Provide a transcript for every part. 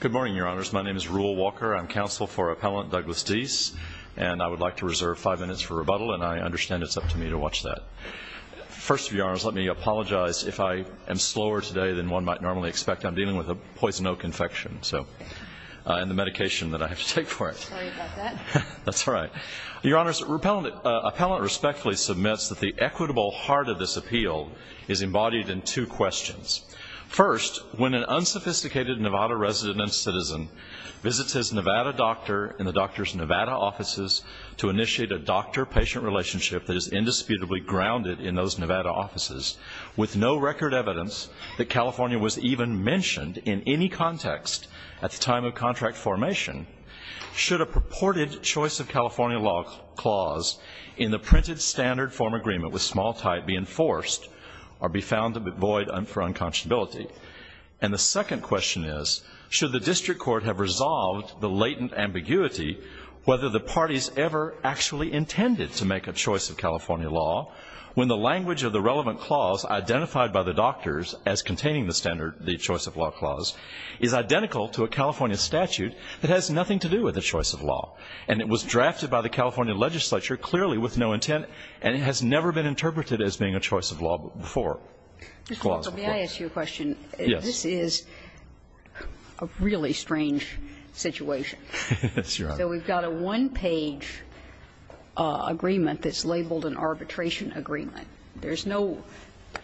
Good morning, Your Honors. My name is Rule Walker. I'm counsel for Appellant Douglas Dees, and I would like to reserve five minutes for rebuttal, and I understand it's up to me to watch that. First, Your Honors, let me apologize if I am slower today than one might normally expect. I'm dealing with a poison oak infection, and the medication that I have to take for it. Sorry about that. That's all right. Your Honors, Appellant respectfully submits that the equitable heart of this appeal is embodied in two questions. First, when an unsophisticated Nevada resident and citizen visits his Nevada doctor in the doctor's Nevada offices to initiate a doctor-patient relationship that is indisputably grounded in those Nevada offices, with no record evidence that California was even mentioned in any context at the time of contract formation, should a purported choice-of-California law clause in the printed standard form agreement with small type be enforced or be found void for unconscionability? And the second question is, should the district court have resolved the latent ambiguity whether the parties ever actually intended to make a choice-of-California law when the language of the relevant clause identified by the doctors as containing the standard, the choice-of-law clause, is identical to a California statute that has nothing to do with a choice-of-law? And it was drafted by the California legislature clearly with no intent, and it has never been interpreted as being a choice-of-law before. May I ask you a question? Yes. This is a really strange situation. Yes, Your Honors. So we've got a one-page agreement that's labeled an arbitration agreement. There's no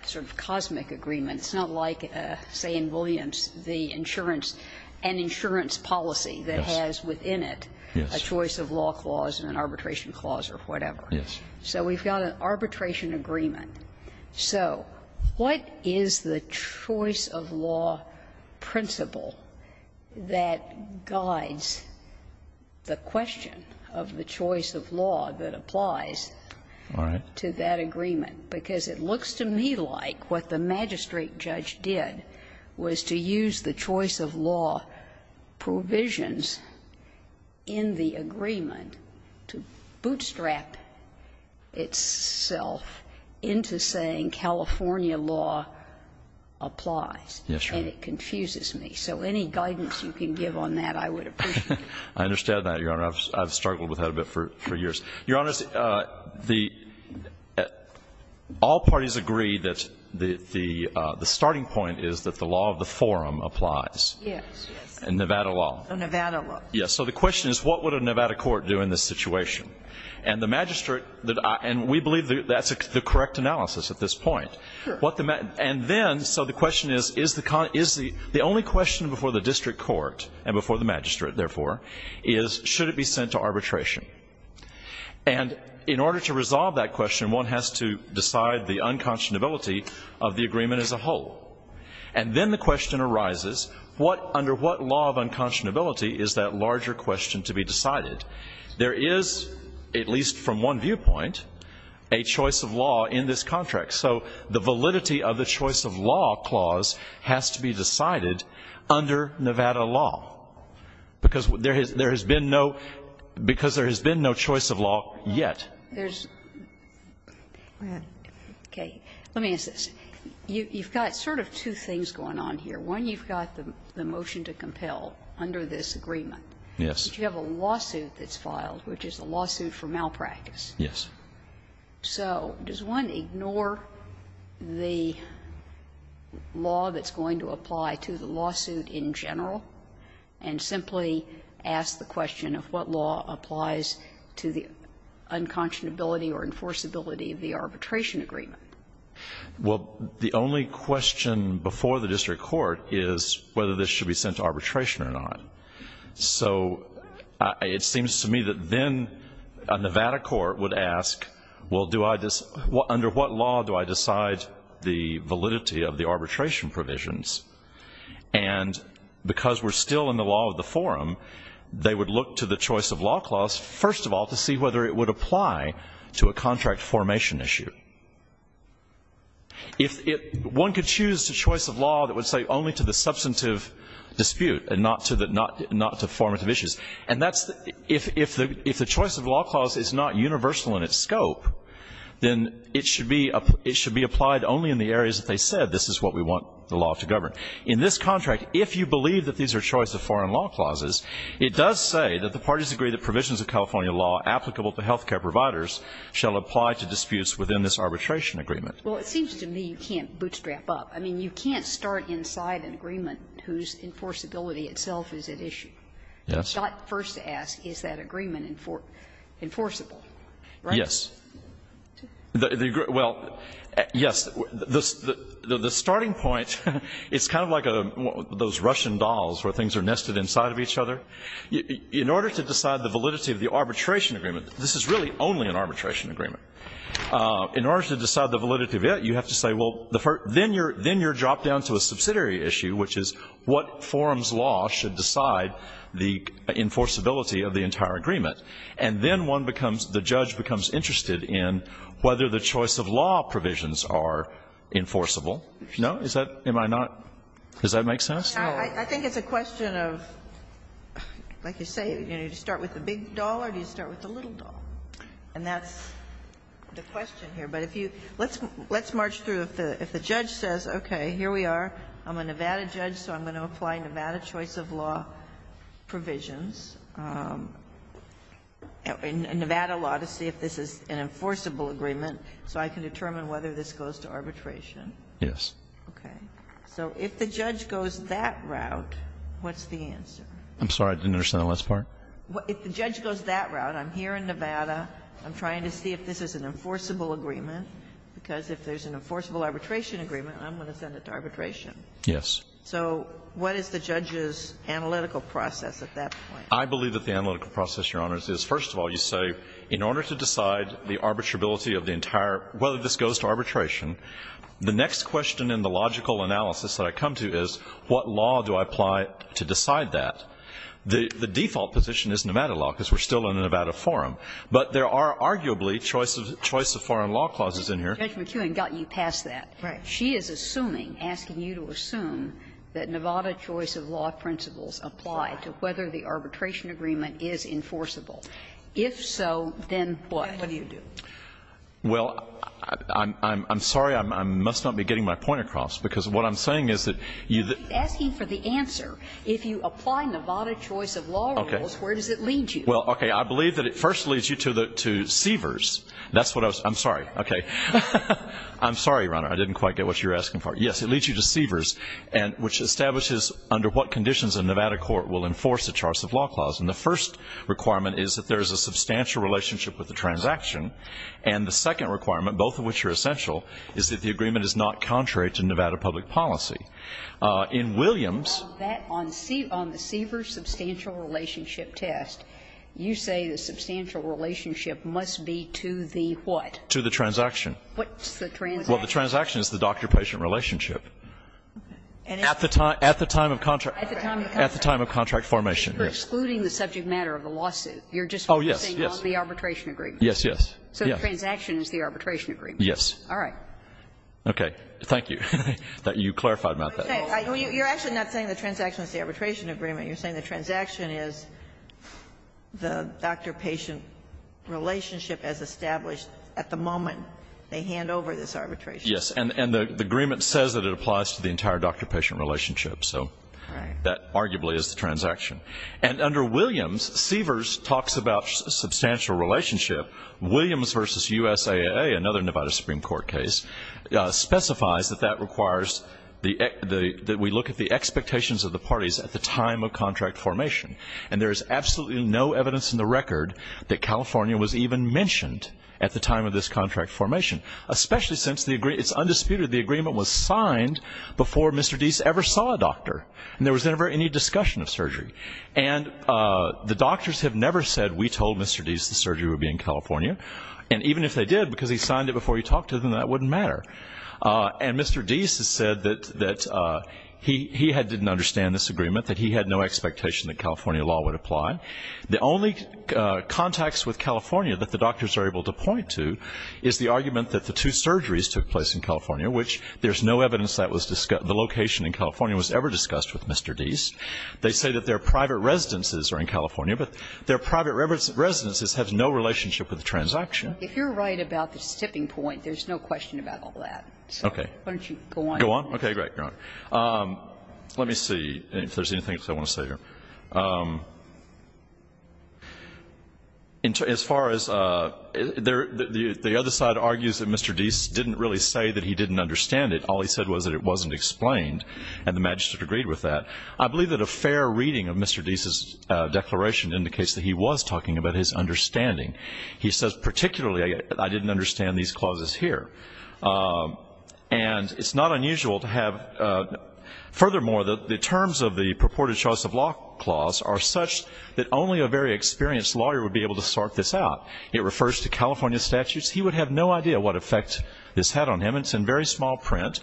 sort of cosmic agreement. It's not like, say, in Williams, the insurance, an insurance policy that has within it a choice-of-law clause and an arbitration clause or whatever. Yes. So we've got an arbitration agreement. So what is the choice-of-law principle that guides the question of the choice-of-law that applies to that agreement? All right. Because it looks to me like what the magistrate judge did was to use the choice-of-law provisions in the agreement to bootstrap itself into saying California law applies. Yes, Your Honor. And it confuses me. So any guidance you can give on that, I would appreciate. I understand that, Your Honor. I've struggled with that a bit for years. Your Honors, the all parties agree that the starting point is that the law of the forum applies. Yes, yes. And Nevada law. And Nevada law. Yes. So the question is what would a Nevada court do in this situation? And the magistrate, and we believe that's the correct analysis at this point. Sure. And then, so the question is, is the only question before the district court and before the magistrate, therefore, is should it be sent to arbitration? And in order to resolve that question, one has to decide the unconscionability of the agreement as a whole. And then the question arises what, under what law of unconscionability is that larger question to be decided? There is, at least from one viewpoint, a choice-of-law in this contract. So the validity of the choice-of-law clause has to be decided under Nevada law, because there has been no, because there has been no choice-of-law yet. Go ahead. Okay. Let me ask this. You've got sort of two things going on here. One, you've got the motion to compel under this agreement. Yes. But you have a lawsuit that's filed, which is a lawsuit for malpractice. Yes. So does one ignore the law that's going to apply to the lawsuit in general and simply ask the question of what law applies to the unconscionability or enforceability of the arbitration agreement? Well, the only question before the district court is whether this should be sent to arbitration or not. So it seems to me that then a Nevada court would ask, well, do I, under what law do I decide the validity of the arbitration provisions? And because we're still in the law of the forum, they would look to the choice-of-law clause, first of all, to see whether it would apply to a contract formation issue. If it, one could choose the choice-of-law that would say only to the substantive dispute and not to the, not to formative issues. And that's, if the choice-of-law clause is not universal in its scope, then it should be applied only in the areas that they said, this is what we want the law to govern. In this contract, if you believe that these are choice-of-foreign-law clauses, it does say that the parties agree that provisions of California law applicable to health care providers shall apply to disputes within this arbitration agreement. Well, it seems to me you can't bootstrap up. I mean, you can't start inside an agreement whose enforceability itself is at issue. Yes. You've got to first ask, is that agreement enforceable, right? Yes. Well, yes. The starting point, it's kind of like those Russian dolls where things are nested inside of each other. In order to decide the validity of the arbitration agreement, this is really only an arbitration agreement. In order to decide the validity of it, you have to say, well, then you're dropped down to a subsidiary issue, which is what forum's law should decide the enforceability of the entire agreement. And then one becomes, the judge becomes interested in whether the choice-of-law provisions are enforceable. No? Is that, am I not, does that make sense? No. I think it's a question of, like you say, do you start with the big doll or do you start with the little doll? And that's the question here. But if you, let's march through. If the judge says, okay, here we are, I'm a Nevada judge, so I'm going to apply Nevada choice-of-law provisions, Nevada law, to see if this is an enforceable agreement so I can determine whether this goes to arbitration. Yes. Okay. So if the judge goes that route, what's the answer? I'm sorry. I didn't understand the last part. If the judge goes that route, I'm here in Nevada, I'm trying to see if this is an enforceable agreement, because if there's an enforceable arbitration agreement, I'm going to send it to arbitration. Yes. So what is the judge's analytical process at that point? I believe that the analytical process, Your Honors, is, first of all, you say, in order to decide the arbitrability of the entire, whether this goes to arbitration, the next question in the logical analysis that I come to is, what law do I apply to decide that? The default position is Nevada law, because we're still in a Nevada forum. But there are arguably choice-of-foreign-law clauses in here. Judge McKeown got you past that. Right. She is assuming, asking you to assume, that Nevada choice-of-law principles apply to whether the arbitration agreement is enforceable. If so, then what? What do you do? Well, I'm sorry. I must not be getting my point across, because what I'm saying is that you the ---- She's asking for the answer. If you apply Nevada choice-of-law rules, where does it lead you? Well, okay. I believe that it first leads you to the, to Seavers. That's what I was, I'm sorry. Okay. I'm sorry, Your Honor. I didn't quite get what you were asking for. Yes, it leads you to Seavers, which establishes under what conditions a Nevada court will enforce a choice-of-law clause. And the first requirement is that there is a substantial relationship with the transaction. And the second requirement, both of which are essential, is that the agreement is not contrary to Nevada public policy. In Williams ---- On that, on the Seavers substantial relationship test, you say the substantial relationship must be to the what? To the transaction. What's the transaction? Well, the transaction is the doctor-patient relationship. Okay. At the time, at the time of contract. At the time of contract. At the time of contract formation, yes. You're excluding the subject matter of the lawsuit. You're just focusing on the arbitration agreement. Oh, yes, yes. Yes, yes. So the transaction is the arbitration agreement. Yes. All right. Okay. Thank you. You clarified about that. You're actually not saying the transaction is the arbitration agreement. You're saying the transaction is the doctor-patient relationship as established at the moment they hand over this arbitration. Yes. And the agreement says that it applies to the entire doctor-patient relationship. So that arguably is the transaction. And under Williams, Seavers talks about substantial relationship. Williams v. USAA, another Nevada Supreme Court case, specifies that that requires the ---- that we look at the expectations of the parties at the time of contract formation. And there is absolutely no evidence in the record that California was even mentioned at the time of this contract formation, especially since it's undisputed the agreement was signed before Mr. Deese ever saw a doctor. And there was never any discussion of surgery. And the doctors have never said we told Mr. Deese the surgery would be in California. And even if they did, because he signed it before he talked to them, that wouldn't matter. And Mr. Deese has said that he didn't understand this agreement, that he had no expectation that California law would apply. The only contacts with California that the doctors are able to point to is the argument that the two surgeries took place in California, which there's no evidence that the location in California was ever discussed with Mr. Deese. They say that their private residences are in California, but their private residences have no relationship with the transaction. If you're right about the tipping point, there's no question about all that. Okay. Why don't you go on? Okay, great. Let me see if there's anything else I want to say here. As far as the other side argues that Mr. Deese didn't really say that he didn't understand it. All he said was that it wasn't explained, and the magistrate agreed with that. I believe that a fair reading of Mr. Deese's declaration indicates that he was talking about his understanding. He says, particularly, I didn't understand these clauses here. And it's not unusual to have. Furthermore, the terms of the purported choice of law clause are such that only a very experienced lawyer would be able to sort this out. It refers to California statutes. He would have no idea what effect this had on him. It's in very small print.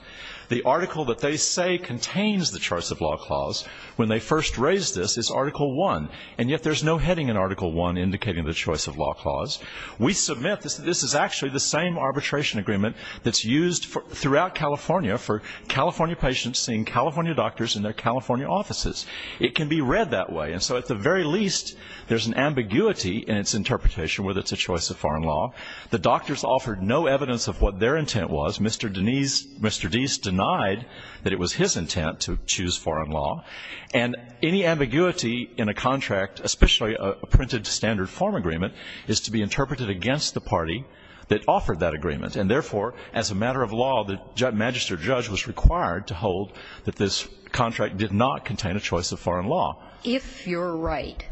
The article that they say contains the choice of law clause when they first raised this is Article I, and yet there's no heading in Article I indicating the choice of law clause. We submit that this is actually the same arbitration agreement that's used throughout California for California patients seeing California doctors in their California offices. It can be read that way. And so at the very least, there's an ambiguity in its interpretation whether it's a choice of foreign law. The doctors offered no evidence of what their intent was. Mr. Deese denied that it was his intent to choose foreign law. And any ambiguity in a contract, especially a printed standard form agreement, is to be interpreted against the party that offered that agreement. And therefore, as a matter of law, the magistrate or judge was required to hold that this contract did not contain a choice of foreign law. If you're right,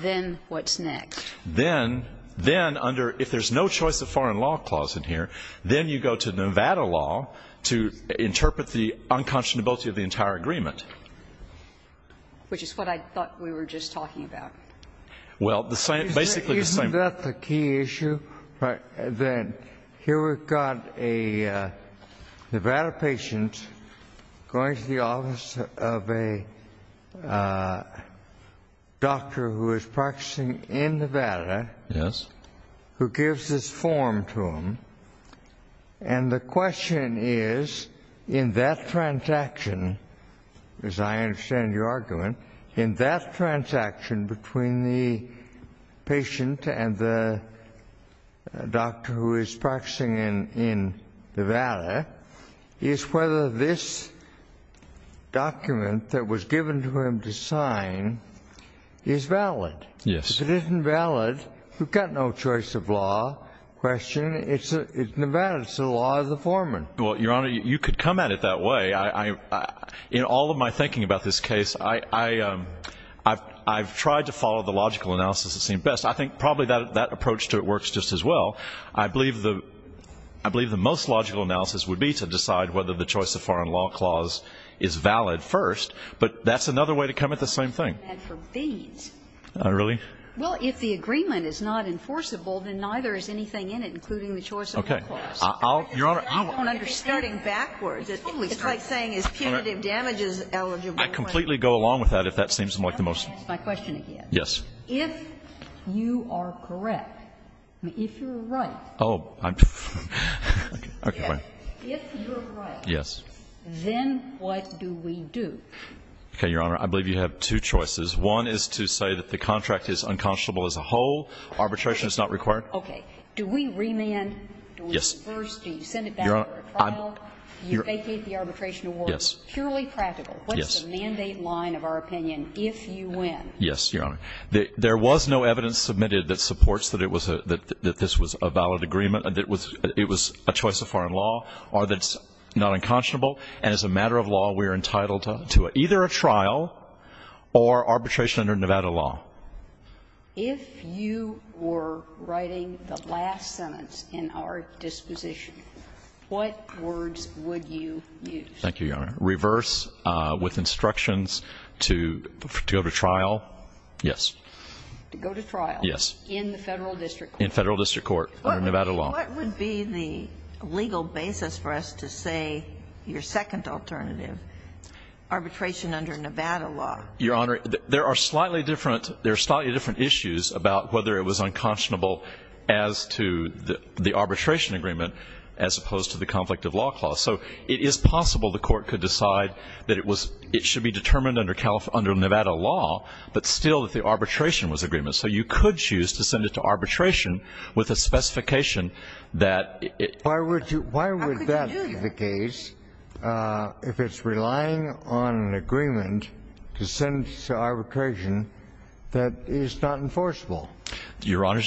then what's next? Then, then, under if there's no choice of foreign law clause in here, then you go to Nevada law to interpret the unconscionability of the entire agreement. Which is what I thought we were just talking about. Well, the same, basically the same. Isn't that the key issue? That here we've got a Nevada patient going to the office of a doctor who is practicing in Nevada. Yes. Who gives this form to him. And the question is, in that transaction, as I understand your argument, in that transaction between the patient and the doctor who is practicing in Nevada, is whether this document that was given to him to sign is valid. Yes. It isn't valid. We've got no choice of law question. It's Nevada. It's the law of the foreman. Well, Your Honor, you could come at it that way. In all of my thinking about this case, I've tried to follow the logical analysis that seemed best. I think probably that approach to it works just as well. I believe the most logical analysis would be to decide whether the choice of foreign law clause is valid first. But that's another way to come at the same thing. Well, if the agreement is not enforceable, then neither is anything in it, including the choice of law clause. I'll, Your Honor. I don't understand. You're starting backwards. It's like saying is punitive damages eligible. I completely go along with that if that seems like the most. Let me ask my question again. Yes. If you are correct, if you're right, if you're right, then what do we do? Okay, Your Honor. I believe you have two choices. One is to say that the contract is unconscionable as a whole, arbitration is not required. Okay. Do we remand? Yes. Do we reverse? Do you send it back for a trial? You vacate the arbitration award. Yes. Purely practical. Yes. What's the mandate line of our opinion if you win? Yes, Your Honor. There was no evidence submitted that supports that it was a valid agreement, that it was a choice of foreign law, or that it's not unconscionable. And as a matter of law, we are entitled to either a trial or arbitration under Nevada law. If you were writing the last sentence in our disposition, what words would you use? Thank you, Your Honor. Reverse with instructions to go to trial. Yes. To go to trial. Yes. In the Federal District Court. In Federal District Court under Nevada law. What would be the legal basis for us to say your second alternative, arbitration under Nevada law? Your Honor, there are slightly different issues about whether it was unconscionable as to the arbitration agreement as opposed to the conflict of law clause. So it is possible the Court could decide that it should be determined under Nevada law, but still that the arbitration was agreement. So you could choose to send it to arbitration with a specification that it. Why would that be the case if it's relying on an agreement to send to arbitration that is not enforceable? Your Honor,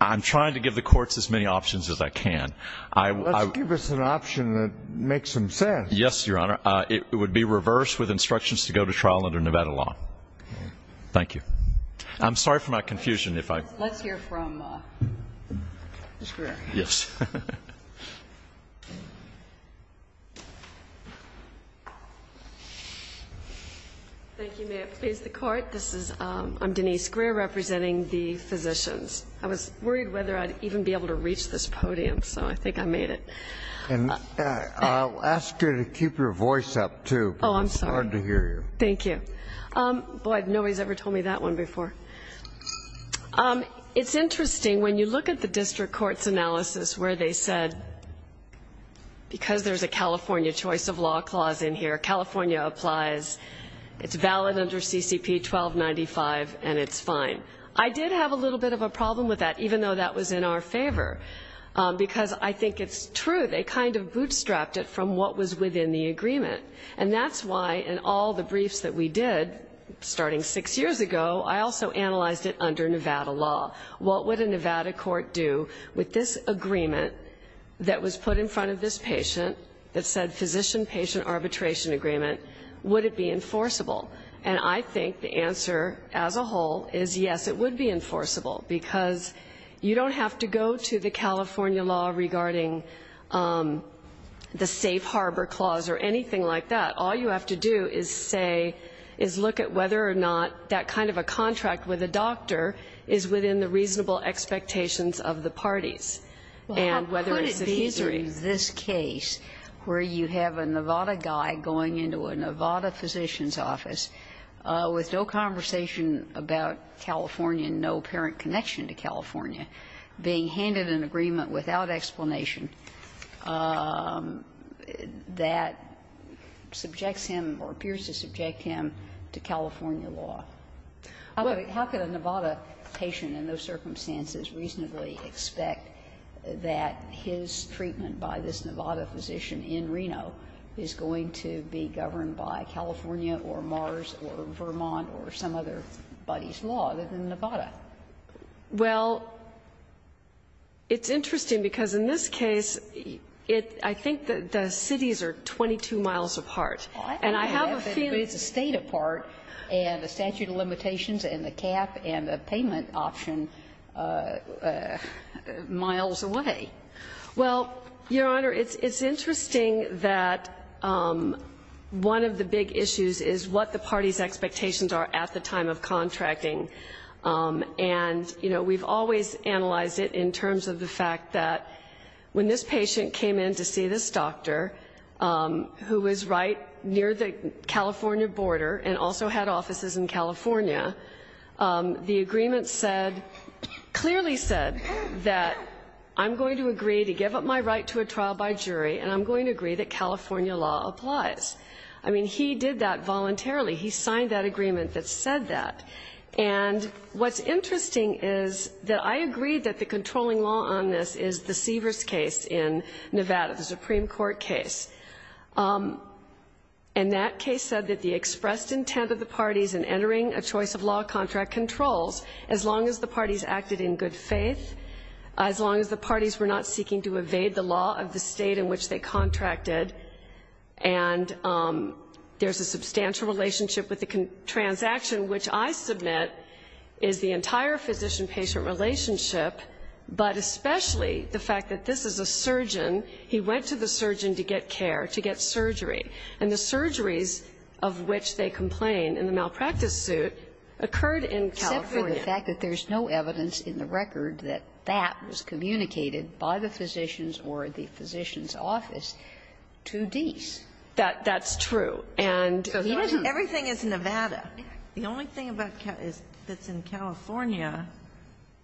I'm trying to give the courts as many options as I can. Let's give us an option that makes some sense. Yes, Your Honor. It would be reverse with instructions to go to trial under Nevada law. Thank you. I'm sorry for my confusion. Let's hear from Ms. Greer. Yes. Thank you. May it please the Court. I'm Denise Greer representing the physicians. I was worried whether I'd even be able to reach this podium, so I think I made it. And I'll ask you to keep your voice up, too. Oh, I'm sorry. It's hard to hear you. Thank you. Boy, nobody's ever told me that one before. It's interesting. When you look at the district court's analysis where they said, because there's a California choice of law clause in here, California applies, it's valid under CCP 1295, and it's fine. I did have a little bit of a problem with that, even though that was in our favor, because I think it's true. They kind of bootstrapped it from what was within the agreement. And that's why in all the briefs that we did, starting six years ago, I also analyzed it under Nevada law. What would a Nevada court do with this agreement that was put in front of this patient that said physician-patient arbitration agreement? Would it be enforceable? And I think the answer as a whole is yes, it would be enforceable, because you don't have to go to the California law regarding the safe harbor clause or anything like that. All you have to do is say, is look at whether or not that kind of a contract with a doctor is within the reasonable expectations of the parties, and whether it's adhesory. Well, how could it be in this case where you have a Nevada guy going into a Nevada physician's office with no conversation about California and no apparent connection to California, being handed an agreement without explanation, that subjects him or appears to subject him to California law? How could a Nevada patient in those circumstances reasonably expect that his treatment by this Nevada physician in Reno is going to be governed by California or Mars or Vermont or some otherbody's law other than Nevada? Well, it's interesting, because in this case, I think the cities are 22 miles apart. And I have a feeling that it's a state apart, and the statute of limitations and the cap and the payment option miles away. Well, Your Honor, it's interesting that one of the big issues is what the parties' expectations are at the time of contracting. And, you know, we've always analyzed it in terms of the fact that when this patient came in to see this doctor, who was right near the California border and also had offices in California, the agreement clearly said that I'm going to agree to give up my right to a trial by jury, and I'm going to agree that California law applies. I mean, he did that voluntarily. He signed that agreement that said that. And what's interesting is that I agree that the controlling law on this is the Seavers case in Nevada, the Supreme Court case. And that case said that the expressed intent of the parties in entering a choice of law contract controls as long as the parties acted in good faith, as long as the parties were not seeking to evade the law of the State in which they contracted. And there's a substantial relationship with the transaction, which I submit is the entire physician-patient relationship, but especially the fact that this is a surgeon. He went to the surgeon to get care, to get surgery. And the surgeries of which they complain in the malpractice suit occurred in California. Sotomayor, the fact that there's no evidence in the record that that was communicated by the physicians or the physician's office to Deese. That's true. And he doesn't. Everything is Nevada. The only thing that's in California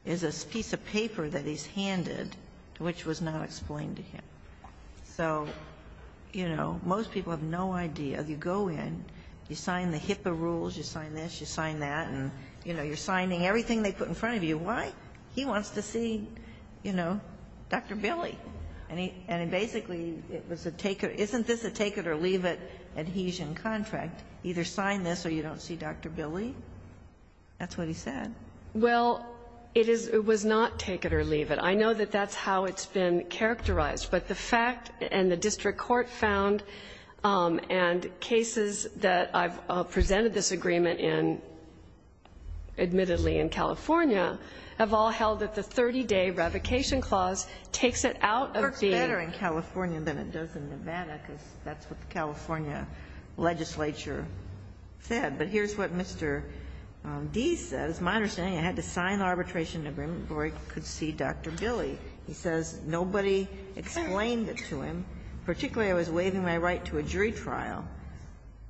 is a piece of paper that he's handed which was not explained to him. So, you know, most people have no idea. You go in, you sign the HIPAA rules, you sign this, you sign that. And, you know, you're signing everything they put in front of you. Why? He wants to see, you know, Dr. Billy. And basically, it was a take it or leave it adhesion contract. Either sign this or you don't see Dr. Billy. That's what he said. Well, it was not take it or leave it. I know that that's how it's been characterized. But the fact, and the district court found, and cases that I've presented this agreement in, admittedly, in California, have all held that the 30-day revocation clause takes it out of the. It works better in California than it does in Nevada, because that's what the California legislature said. But here's what Mr. Deese says. My understanding, I had to sign the arbitration agreement before I could see Dr. Billy. He says nobody explained it to him. Particularly, I was waiving my right to a jury trial,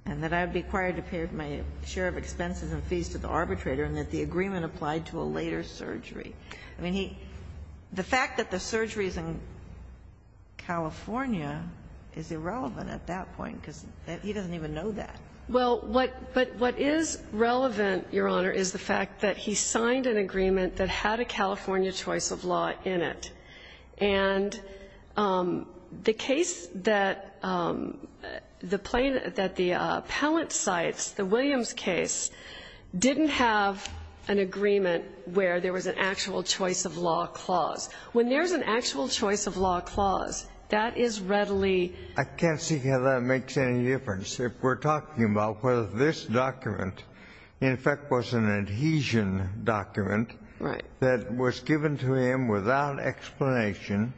and that I would be required to pay my share of expenses and fees to the arbitrator, and that the agreement applied to a later surgery. I mean, the fact that the surgery is in California is irrelevant at that point, because he doesn't even know that. Well, what is relevant, Your Honor, is the fact that he signed an agreement that had a California choice of law in it. And the case that the plaintiff, that the appellant cites, the Williams case, didn't have an agreement where there was an actual choice of law clause. When there's an actual choice of law clause, that is readily ---- I can't see how that makes any difference if we're talking about whether this document in effect was an adhesion document that was given to him without explanation,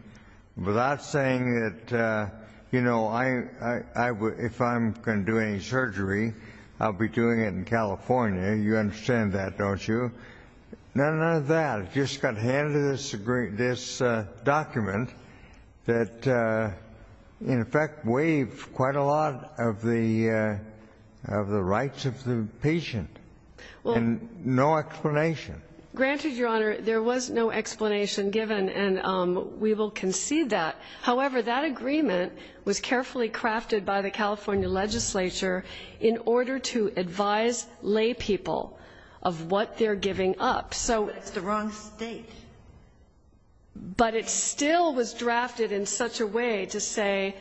without saying that, you know, if I'm going to do any surgery, I'll be doing it in California. You understand that, don't you? None of that. I just got handed this document that, in effect, waived quite a lot of the rights of the patient, and no explanation. Granted, Your Honor, there was no explanation given, and we will concede that. However, that agreement was carefully crafted by the California legislature in order to advise laypeople of what they're giving up. It's the wrong state. But it still was drafted in such a way to say,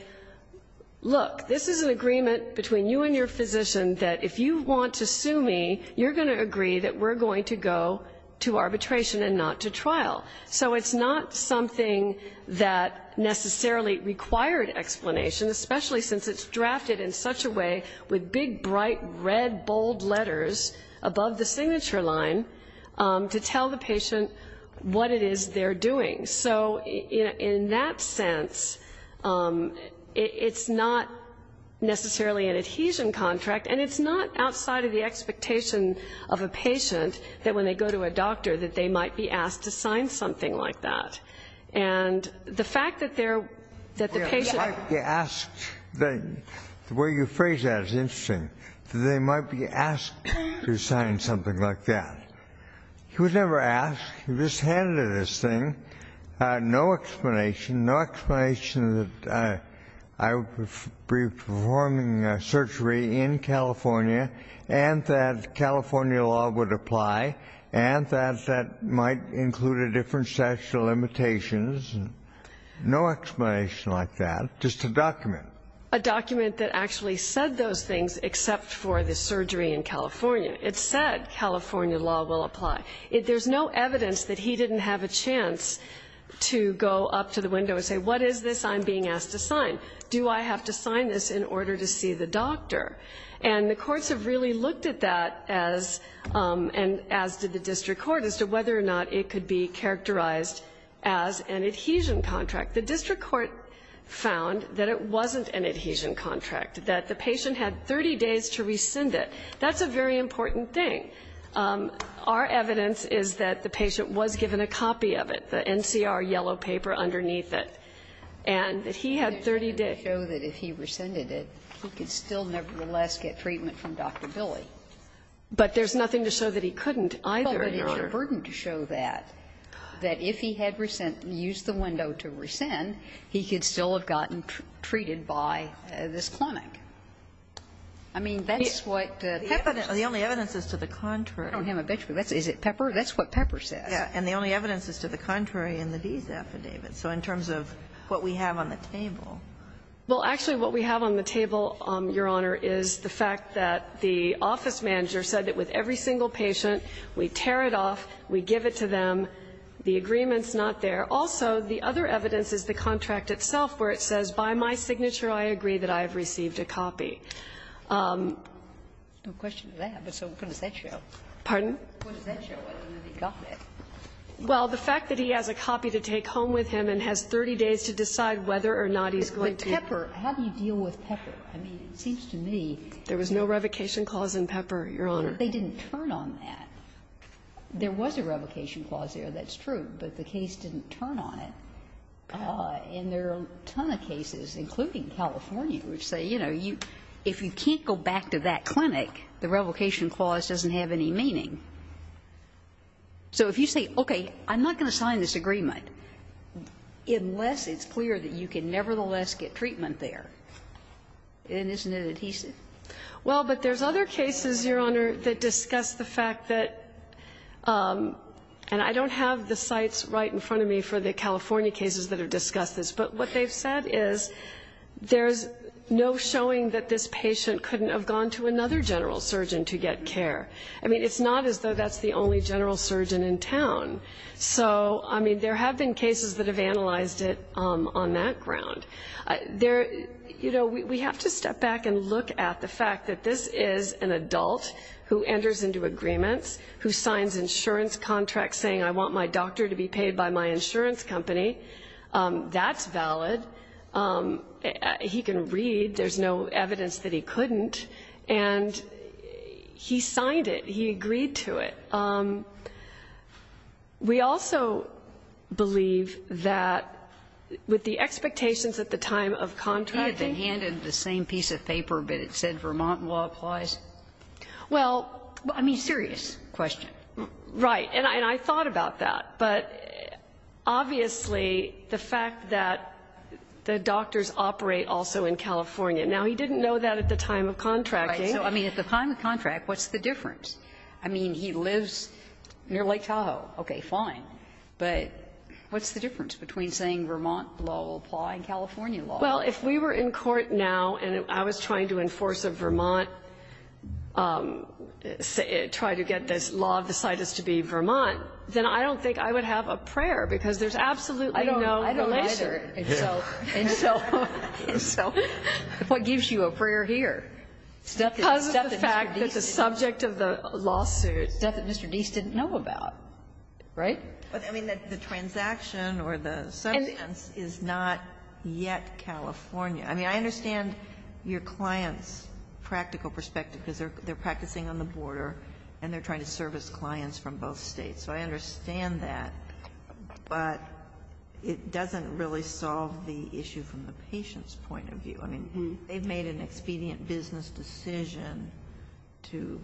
look, this is an agreement between you and your physician that if you want to sue me, you're going to agree that we're going to go to arbitration and not to trial. So it's not something that necessarily required explanation, especially since it's to tell the patient what it is they're doing. So in that sense, it's not necessarily an adhesion contract, and it's not outside of the expectation of a patient that when they go to a doctor that they might be asked to sign something like that. And the fact that they're the patient... The way you phrased that is interesting, that they might be asked to sign something like that. He was never asked. He was just handed this thing. No explanation. No explanation that I would be performing surgery in California and that California law would apply and that that might include a different statute of limitations. No explanation like that. Just a document. A document that actually said those things except for the surgery in California. It said California law will apply. There's no evidence that he didn't have a chance to go up to the window and say, what is this I'm being asked to sign? Do I have to sign this in order to see the doctor? And the courts have really looked at that, as did the district court, as to whether or not it could be characterized as an adhesion contract. The district court found that it wasn't an adhesion contract, that the patient had 30 days to rescind it. That's a very important thing. Our evidence is that the patient was given a copy of it, the NCR yellow paper underneath it, and that he had 30 days. Sotomayor. It doesn't show that if he rescinded it, he could still nevertheless get treatment from Dr. Billy. But there's nothing to show that he couldn't either. Well, but it's a burden to show that, that if he had used the window to rescind, he could still have gotten treated by this clinic. I mean, that's what the evidence is. The only evidence is to the contrary. I don't have a benchmark. Is it Pepper? That's what Pepper says. Yes. And the only evidence is to the contrary in the Dees affidavit. So in terms of what we have on the table. Well, actually, what we have on the table, Your Honor, is the fact that the office manager said that with every single patient, we tear it off, we give it to them. The agreement's not there. Also, the other evidence is the contract itself, where it says, by my signature, I agree that I have received a copy. No question of that. But so what does that show? Pardon? What does that show? I don't know that he got that. Well, the fact that he has a copy to take home with him and has 30 days to decide whether or not he's going to. But Pepper, how do you deal with Pepper? I mean, it seems to me. There was no revocation clause in Pepper, Your Honor. They didn't turn on that. There was a revocation clause there, that's true, but the case didn't turn on it. And there are a ton of cases, including California, which say, you know, if you can't go back to that clinic, the revocation clause doesn't have any meaning. So if you say, okay, I'm not going to sign this agreement, unless it's clear that you can nevertheless get treatment there, then isn't it adhesive? Well, but there's other cases, Your Honor, that discuss the fact that, and I don't have the sites right in front of me for the California cases that have discussed this, but what they've said is there's no showing that this patient couldn't have gone to another general surgeon to get care. I mean, it's not as though that's the only general surgeon in town. So, I mean, there have been cases that have analyzed it on that ground. You know, we have to step back and look at the fact that this is an adult who enters into agreements, who signs insurance contracts saying I want my doctor to be paid by my insurance company. That's valid. He can read. There's no evidence that he couldn't. And he signed it. He agreed to it. We also believe that with the expectations at the time of contracting. He had been handed the same piece of paper, but it said Vermont law applies. Well, I mean, serious question. Right. And I thought about that. But, obviously, the fact that the doctors operate also in California. Now, he didn't know that at the time of contracting. Right. So, I mean, at the time of contract, what's the difference? I mean, he lives near Lake Tahoe. Okay, fine. But what's the difference between saying Vermont law will apply and California law? Well, if we were in court now and I was trying to enforce a Vermont, try to get this law decided to be Vermont, then I don't think I would have a prayer, because there's absolutely no relation. I don't either. So what gives you a prayer here? Because of the fact that the subject of the lawsuit. The stuff that Mr. Deese didn't know about. Right? But, I mean, the transaction or the substance is not yet California. I mean, I understand your client's practical perspective, because they're practicing on the border and they're trying to service clients from both States. So I understand that, but it doesn't really solve the issue from the patient's point of view. I mean, they've made an expedient business decision to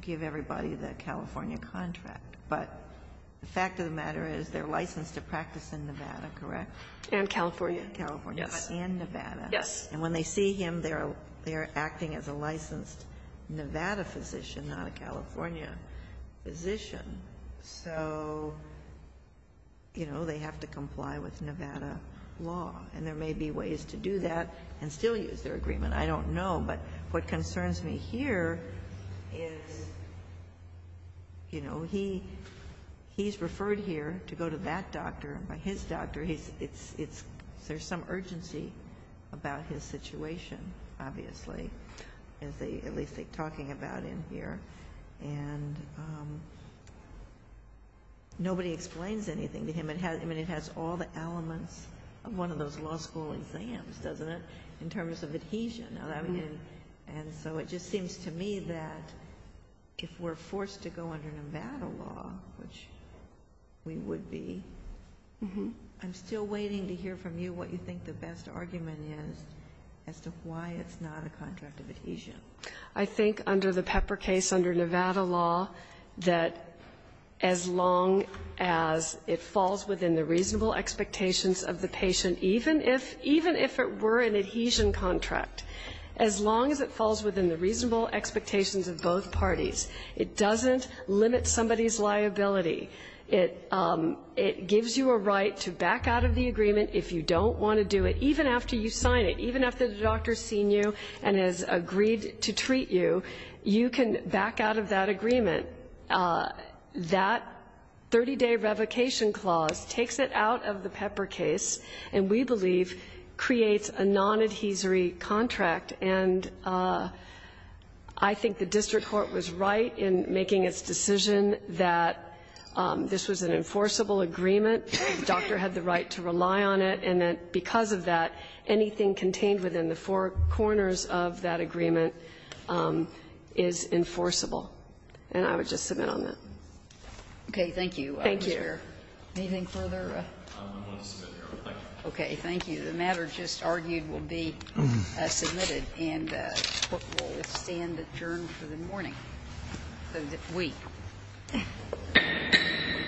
give everybody the California contract. But the fact of the matter is they're licensed to practice in Nevada, correct? And California. And California. Yes. And Nevada. Yes. And when they see him, they are acting as a licensed Nevada physician, not a California physician. So, you know, they have to comply with Nevada law. And there may be ways to do that and still use their agreement. I don't know. But what concerns me here is, you know, he's referred here to go to that doctor. And by his doctor, there's some urgency about his situation, obviously, at least they're talking about in here. And nobody explains anything to him. I mean, it has all the elements of one of those law school exams, doesn't it, in And so it just seems to me that if we're forced to go under Nevada law, which we would be, I'm still waiting to hear from you what you think the best argument is as to why it's not a contract of adhesion. I think under the Pepper case, under Nevada law, that as long as it falls within the reasonable expectations of the patient, even if it were an adhesion contract, as long as it falls within the reasonable expectations of both parties, it doesn't limit somebody's liability. It gives you a right to back out of the agreement if you don't want to do it, even after you sign it, even after the doctor has seen you and has agreed to treat you, you can back out of that agreement. That 30-day revocation clause takes it out of the Pepper case and, we believe, creates a nonadhesory contract. And I think the district court was right in making its decision that this was an enforceable agreement, the doctor had the right to rely on it, and that because of that, anything contained within the four corners of that agreement is enforceable. And I would just submit on that. Okay. Thank you. Thank you. Anything further? I'm going to submit here. Thank you. Okay. Thank you. The matter just argued will be submitted and will stand adjourned for the morning of the week.